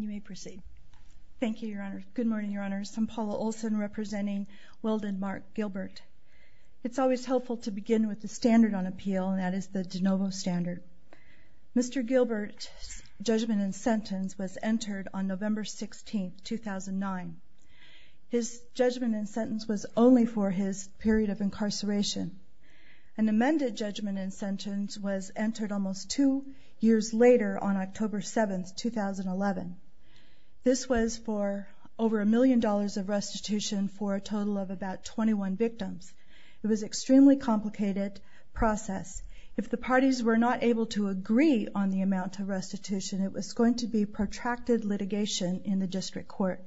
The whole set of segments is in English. You may proceed. Thank you, Your Honor. Good morning, Your Honors. I'm Paula Olson representing Weldon Mark Gilbert. It's always helpful to begin with the standard on appeal, and that is the de novo standard. Mr. Gilbert's judgment and sentence was entered on November 16, 2009. His judgment and sentence was only for his period of incarceration. An amended judgment and sentence was entered almost two years later on October 7, 2011. This was for over a million dollars of restitution for a total of about 21 victims. It was an extremely complicated process. If the parties were not able to agree on the amount of restitution, it was going to be protracted litigation in the district court.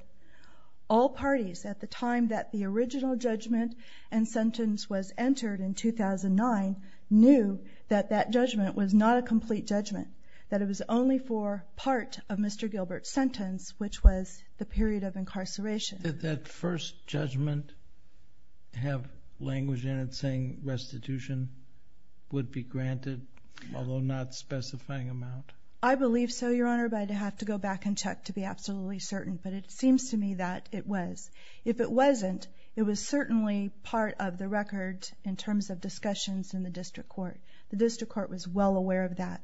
All parties at the time that the original judgment and sentence was entered in 2009 knew that that judgment was not a complete judgment, that it was only for part of Mr. Gilbert's sentence, which was the period of incarceration. Did that first judgment have language in it saying restitution would be granted, although not specifying amount? I believe so, Your Honor, but I'd have to go back and check to be absolutely certain. But it seems to me that it was. If it wasn't, it was certainly part of the record in terms of discussions in the district court. The district court was well aware of that.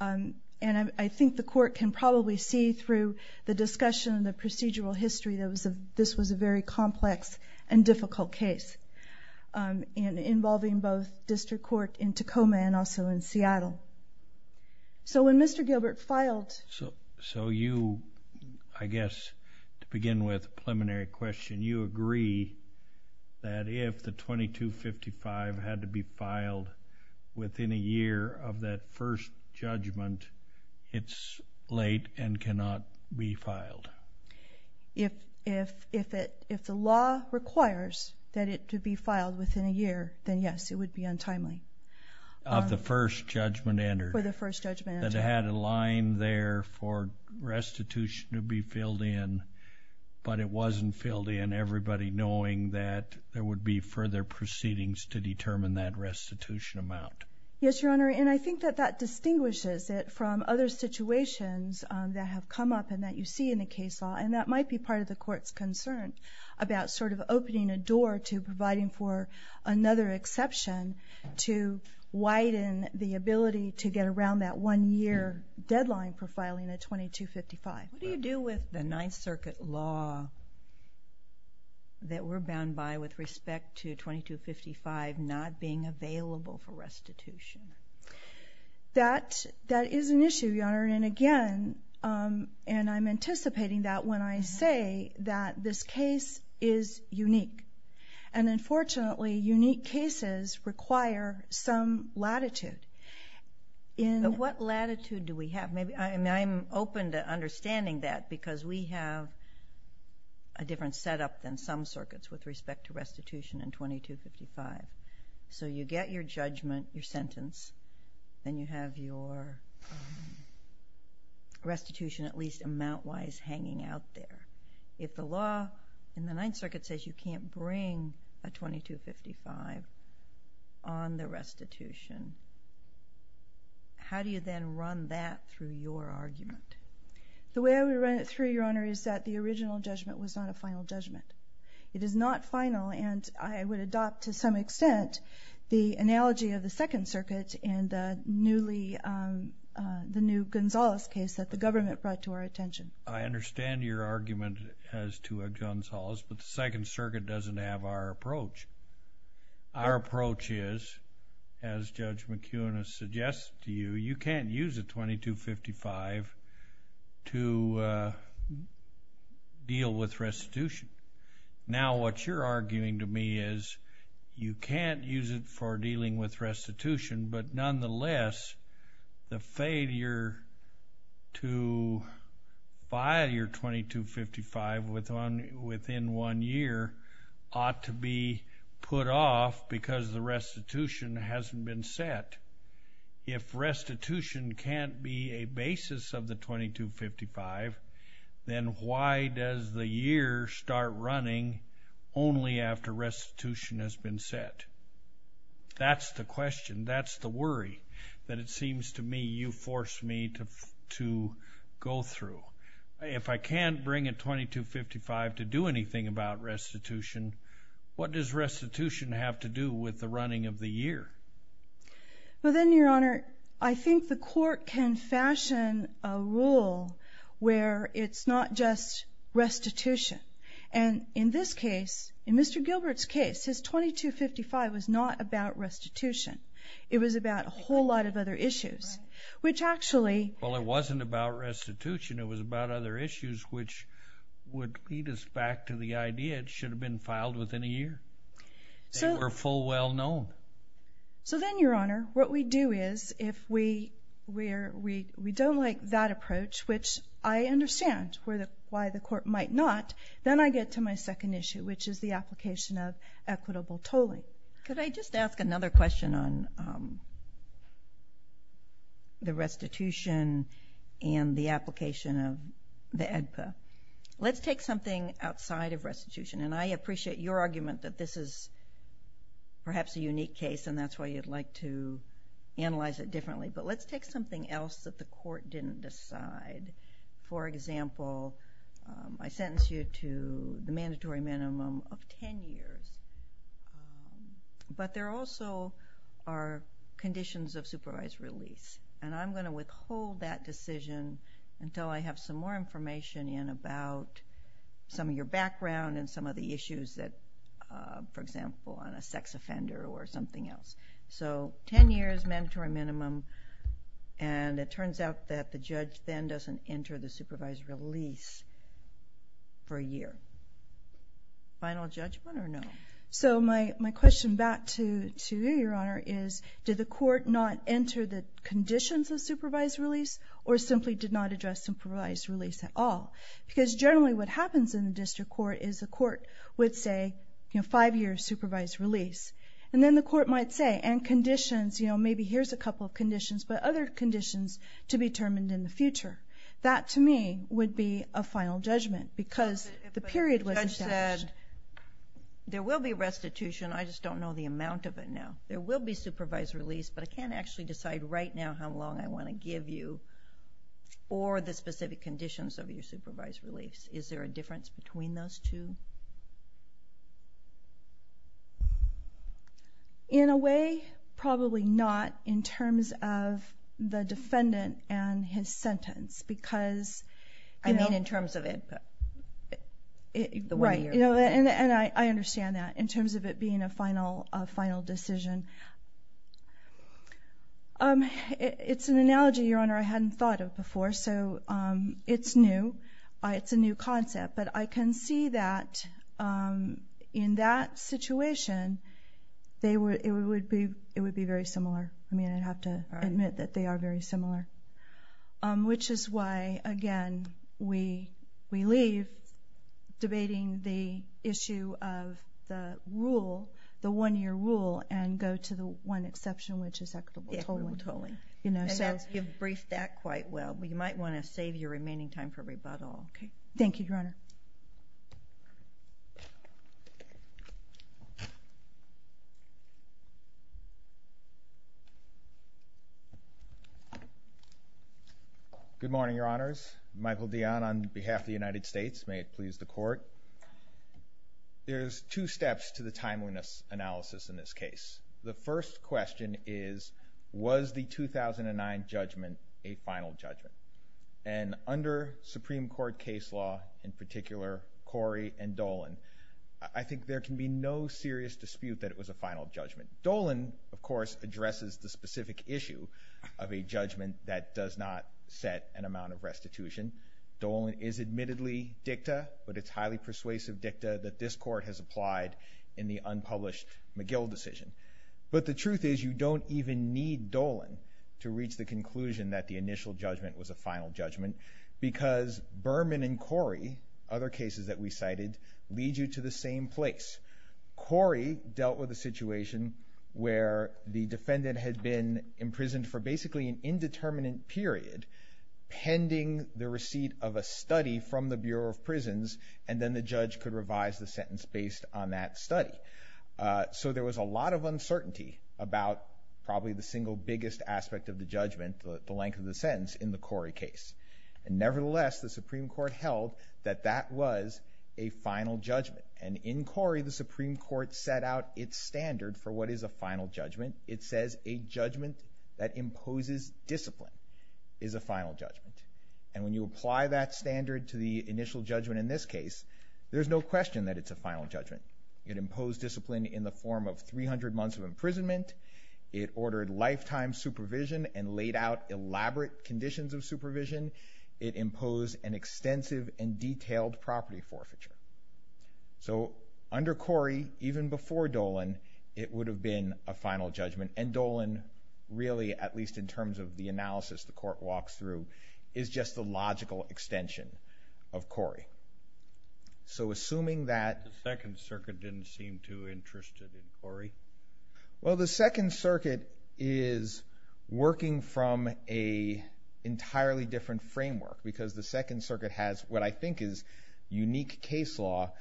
And I think the court can probably see through the discussion and the procedural history that this was a very complex and difficult case involving both district court in Tacoma and also in Seattle. So when Mr. Gilbert filed... So you, I guess, to begin with, a preliminary question, you agree that if the 2255 had to be filed within a year of that first judgment, it's late and cannot be filed? If the law requires that it to be filed within a year, then yes, it would be untimely. Of the first judgment entered? For the first judgment entered. That it had a line there for restitution to be filled in, but it wasn't filled in, everybody knowing that there would be further proceedings to determine that restitution amount. Yes, Your Honor. And I think that that distinguishes it from other situations that have come up and that you see in the case law. And that might be part of the court's concern about sort of opening a door to providing for another exception to widen the ability to get around that one-year deadline for filing a 2255. What do you do with the Ninth Circuit law that we're bound by with respect to 2255 not being available for restitution? That is an issue, Your Honor. And again, and I'm anticipating that when I say that this case is unique. And unfortunately, unique cases require some latitude. But what latitude do we have? I'm open to understanding that because we have a different setup than some circuits with respect to restitution in 2255. So you get your judgment, your sentence, then you have your restitution at least amount-wise hanging out there. If the law in the Ninth Circuit does not allow restitution, how do you then run that through your argument? The way I would run it through, Your Honor, is that the original judgment was not a final judgment. It is not final, and I would adopt to some extent the analogy of the Second Circuit and the newly, the new Gonzales case that the government brought to our attention. I understand your argument as to a Gonzales, but the Second Circuit doesn't have our approach. Our approach is, as Judge McEwen has suggested to you, you can't use a 2255 to deal with restitution. Now, what you're arguing to me is you can't use it for dealing with restitution, but nonetheless, the failure to file your 2255 within one year ought to be put off because the restitution hasn't been set. If restitution can't be a basis of the 2255, then why does the year start running only after restitution has been set? That's the question. That's the worry that it seems to me you forced me to go through. If I can't bring a 2255 to do anything about restitution, what does restitution have to do with the running of the year? Well, then, Your Honor, I think the court can fashion a rule where it's not just restitution. And in this case, in Mr. Gilbert's case, his 2255 was not about restitution. It was about a whole lot of other issues, which actually... Well, it wasn't about restitution. It was about other issues, which would lead us back to the idea it should have been filed within a year. They were full well-known. So then, Your Honor, what we do is if we don't like that approach, which I understand why the court might not, then I get to my second issue, which is the application of equitable tolling. Could I just ask another question on the restitution and the application of the AEDPA? Let's take something outside of restitution. And I appreciate your argument that this is perhaps a unique case, and that's why you'd like to analyze it differently. But let's take something else that the court didn't decide. For example, I sentence you to the mandatory minimum of 10 years. But there also are conditions of supervised release. And I'm going to withhold that decision until I have some more information in about some of your background and some of the issues that, for example, on a sex offender or something else. So 10 years, mandatory minimum. And it turns out that the judge then doesn't enter the supervised release for a year. Final judgment or no? So my question back to you, Your Honor, is did the court not enter the conditions of supervised release, or simply did not address supervised release at all? Because generally what happens in the district court is the court would say, you know, five years supervised release. And then the court might say, and conditions, you know, maybe here's a couple of conditions, but other conditions to be determined in the future. That, to me, would be a final judgment, because the period wasn't established. There will be restitution. I just don't know the amount of it now. There will be supervised release. But I can't actually decide right now how long I want to give you or the specific conditions of your supervised release. Is there a difference between those two? In a way, probably not in terms of the defendant and his sentence, because... I mean in terms of it... Right. And I understand that in terms of it being a final decision. It's an analogy, Your Honor, I hadn't thought of before. So it's new. It's a new concept. But I can see that in that situation, it would be very similar. I mean, I'd have to admit that they are very similar. Which is why, again, we leave debating the issue of the rule, the one-year rule, and go to the one exception, which is equitable tolling. Equitable tolling. And you've briefed that quite well. But you might want to save your remaining time for rebuttal. Thank you, Your Honor. Good morning, Your Honors. Michael Dionne on behalf of the United States. May it please the Court. There's two steps to the timeliness analysis in this case. The first question is, was the 2009 judgment a final judgment? And under Supreme Court case law, in particular, Corey and Dolan, I think there can be no serious dispute that it was a final judgment. Dolan, of course, addresses the specific issue of a judgment that does not set an amount of restitution. Dolan is admittedly dicta, but it's highly persuasive dicta that this Court has applied in the unpublished McGill decision. But the truth is, you don't even need Dolan to reach the conclusion that the initial judgment was a final judgment, because Berman and Corey, other cases that we cited, lead you to the where the defendant had been imprisoned for basically an indeterminate period, pending the receipt of a study from the Bureau of Prisons, and then the judge could revise the sentence based on that study. So there was a lot of uncertainty about probably the single biggest aspect of the judgment, the length of the sentence, in the Corey case. And nevertheless, the Supreme Court held that that was a final judgment. And in Corey, the Supreme Court set out its standard for what is a final judgment. It says a judgment that imposes discipline is a final judgment. And when you apply that standard to the initial judgment in this case, there's no question that it's a final judgment. It imposed discipline in the form of 300 months of imprisonment. It ordered lifetime supervision and laid out elaborate conditions of supervision. It imposed an extensive and detailed property forfeiture. So, under Corey, even before Dolan, it would have been a final judgment. And Dolan, really, at least in terms of the analysis the court walks through, is just the logical extension of Corey. So assuming that— The Second Circuit didn't seem too interested in Corey. Well, the Second Circuit is working from an entirely different framework, because the case law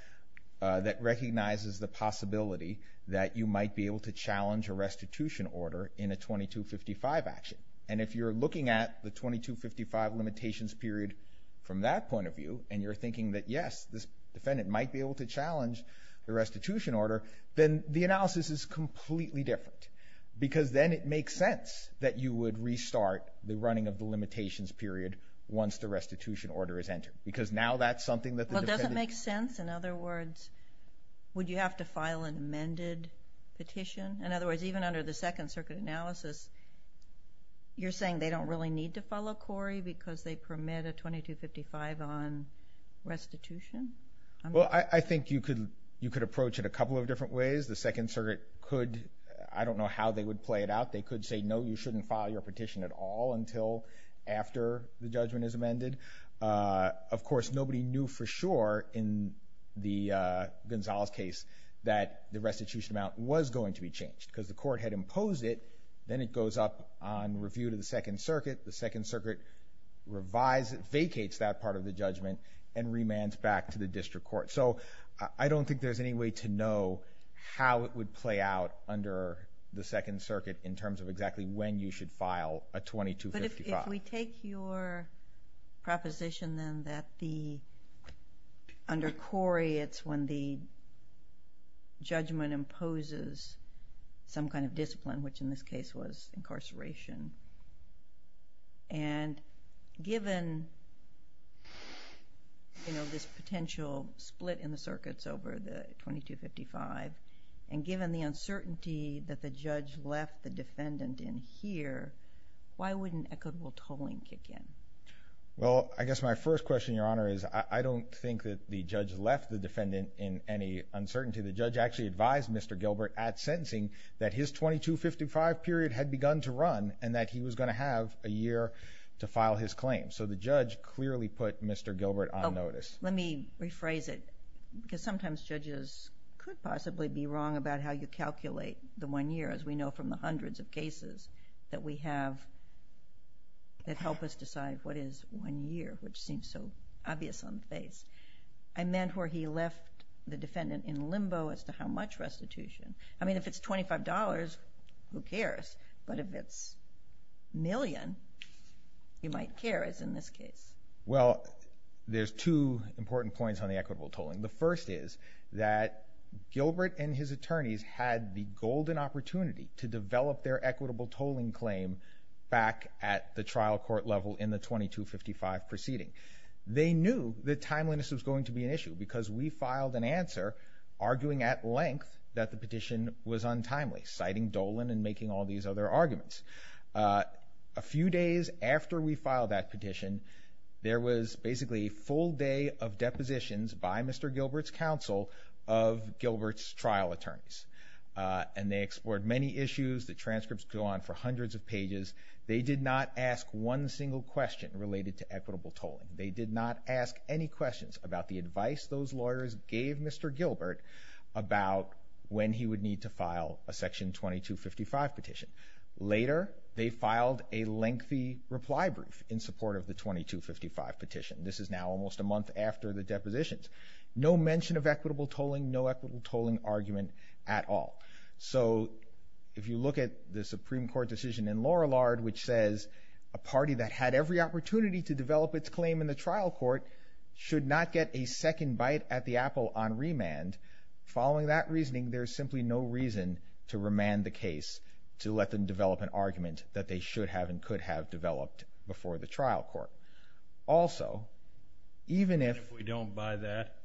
that recognizes the possibility that you might be able to challenge a restitution order in a 2255 action. And if you're looking at the 2255 limitations period from that point of view, and you're thinking that, yes, this defendant might be able to challenge the restitution order, then the analysis is completely different. Because then it makes sense that you would restart the running of the limitations period once the restitution order is entered. Because now that's something that the defendant— In other words, would you have to file an amended petition? In other words, even under the Second Circuit analysis, you're saying they don't really need to follow Corey because they permit a 2255 on restitution? Well, I think you could approach it a couple of different ways. The Second Circuit could—I don't know how they would play it out. They could say, no, you shouldn't file your petition at all until after the judgment is amended. Of course, nobody knew for sure in the Gonzales case that the restitution amount was going to be changed, because the court had imposed it. Then it goes up on review to the Second Circuit. The Second Circuit vacates that part of the judgment and remands back to the district court. So I don't think there's any way to know how it would play out under the Second Circuit in terms of exactly when you should file a 2255. But if we take your proposition then that under Corey, it's when the judgment imposes some kind of discipline, which in this case was incarceration, and given this potential split in the circuits over the 2255, and given the uncertainty that the judge left the defendant in here, why wouldn't equitable tolling kick in? Well, I guess my first question, Your Honor, is I don't think that the judge left the defendant in any uncertainty. The judge actually advised Mr. Gilbert at sentencing that his 2255 period had begun to run and that he was going to have a year to file his claim. So the judge clearly put Mr. Gilbert on notice. Let me rephrase it, because sometimes judges could possibly be wrong about how you calculate the one year, as we know from the hundreds of cases that we have that help us decide what is one year, which seems so obvious on the face. I meant where he left the defendant in limbo as to how much restitution. I mean, if it's $25, who cares? But if it's a million, you might care, as in this case. Well, there's two important points on the equitable tolling. The first is that Gilbert and his attorneys had the golden opportunity to develop their equitable tolling claim back at the trial court level in the 2255 proceeding. They knew that timeliness was going to be an issue, because we filed an answer arguing at length that the petition was untimely, citing Dolan and making all these other arguments. A few days after we filed that petition, there was basically a full day of depositions by Mr. Gilbert's counsel of Gilbert's trial attorneys, and they explored many issues. The transcripts go on for hundreds of pages. They did not ask one single question related to equitable tolling. They did not ask any questions about the advice those lawyers gave Mr. Gilbert about when he would need to file a section 2255 petition. Later, they filed a lengthy reply brief in support of the 2255 petition. This is now almost a month after the depositions. No mention of equitable tolling, no equitable tolling argument at all. So if you look at the Supreme Court decision in Lorillard, which says a party that had every opportunity to develop its claim in the trial court should not get a second bite at the apple on remand, following that reasoning, there's simply no reason to remand the case to let them develop an argument that they should have and could have developed before the trial court. Also, even if we don't buy that,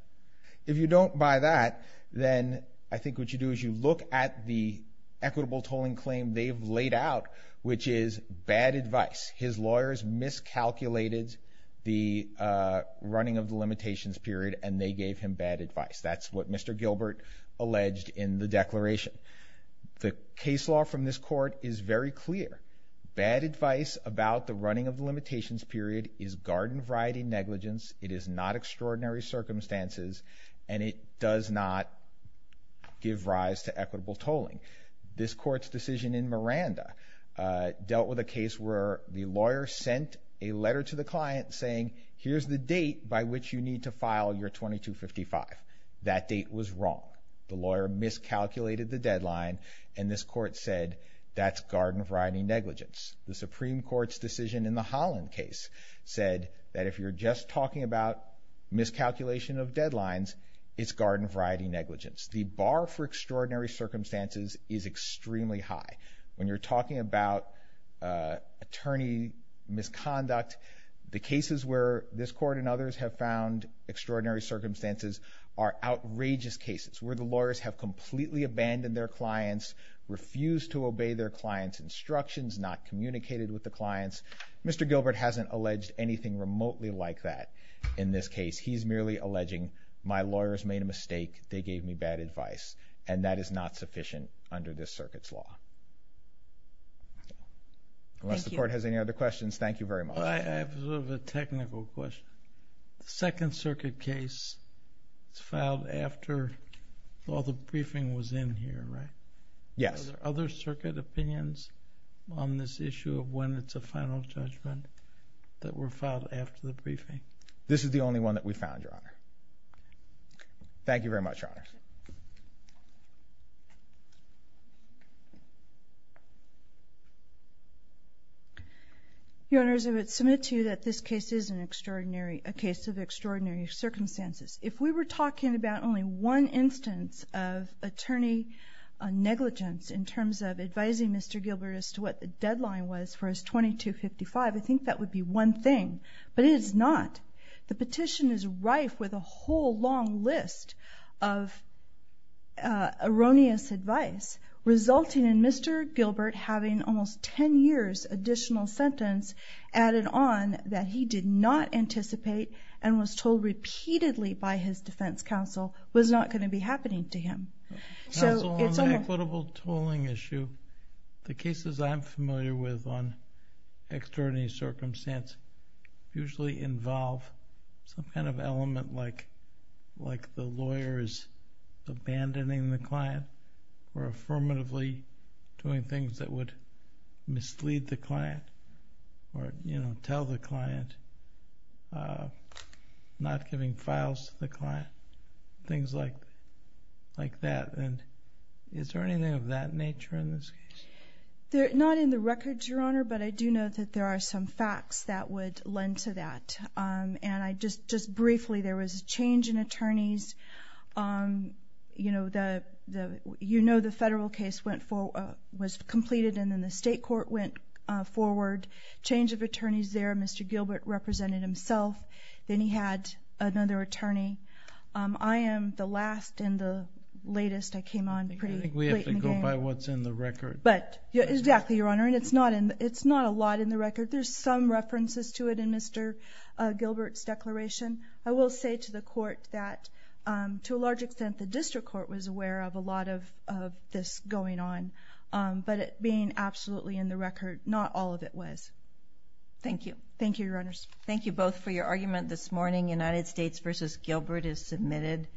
if you don't buy that, then I think what you do is you look at the equitable tolling claim they've laid out, which is bad advice. His lawyers miscalculated the running of the limitations period, and they gave him bad advice. That's what Mr. Gilbert alleged in the declaration. The case law from this court is very clear. Bad advice about the running of the limitations period is garden variety negligence. It is not extraordinary circumstances, and it does not give rise to equitable tolling. This court's decision in Miranda dealt with a case where the lawyer sent a letter to the client saying, here's the date by which you need to file your 2255. That date was wrong. The lawyer miscalculated the deadline, and this court said that's garden variety negligence. The Supreme Court's decision in the Holland case said that if you're just talking about miscalculation of deadlines, it's garden variety negligence. The bar for extraordinary circumstances is extremely high. When you're talking about attorney misconduct, the cases where this court and others have found extraordinary circumstances are outrageous cases where the lawyers have completely abandoned their Mr. Gilbert hasn't alleged anything remotely like that in this case. He's merely alleging my lawyers made a mistake. They gave me bad advice, and that is not sufficient under this circuit's law. Unless the court has any other questions, thank you very much. I have a technical question. The Second Circuit case was filed after all the briefing was in here, right? Yes. Are there other Circuit opinions on this issue of when it's a final judgment that were filed after the briefing? This is the only one that we found, Your Honor. Thank you very much, Your Honors. Your Honors, I would submit to you that this case is an extraordinary, a case of extraordinary circumstances. If we were talking about only one instance of attorney negligence in terms of advising Mr. Gilbert as to what the deadline was for his 2255, I think that would be one thing, but it is not. The petition is rife with a whole long list of erroneous advice, resulting in Mr. Gilbert having almost 10 years' additional sentence added on that he did not anticipate and was told repeatedly by his defense counsel was not going to be happening to him. Counsel, on the equitable tolling issue, the cases I'm familiar with on extraordinary circumstance usually involve some kind of element like the lawyers abandoning the client or affirmatively doing things that would mislead the client or tell the client, not giving files to the client, things like that. Is there anything of that nature in this case? Not in the records, Your Honor, but I do know that there are some facts that would lend to that. Just briefly, there was a change in attorneys. You know the federal case went forward, was completed, and then the state court went forward. Change of attorneys there. Mr. Gilbert represented himself. Then he had another attorney. I am the last and the latest I came on pretty late in the game. I think we have to go by what's in the record. But exactly, Your Honor, and it's not a lot in the record. There's some references to it in Mr. Gilbert's declaration. I will say to the court that to a large extent the district court was aware of a lot of this going on. But it being absolutely in the record, not all of it was. Thank you. Thank you, Your Honors. Thank you both for your argument this morning. United States v. Gilbert is submitted.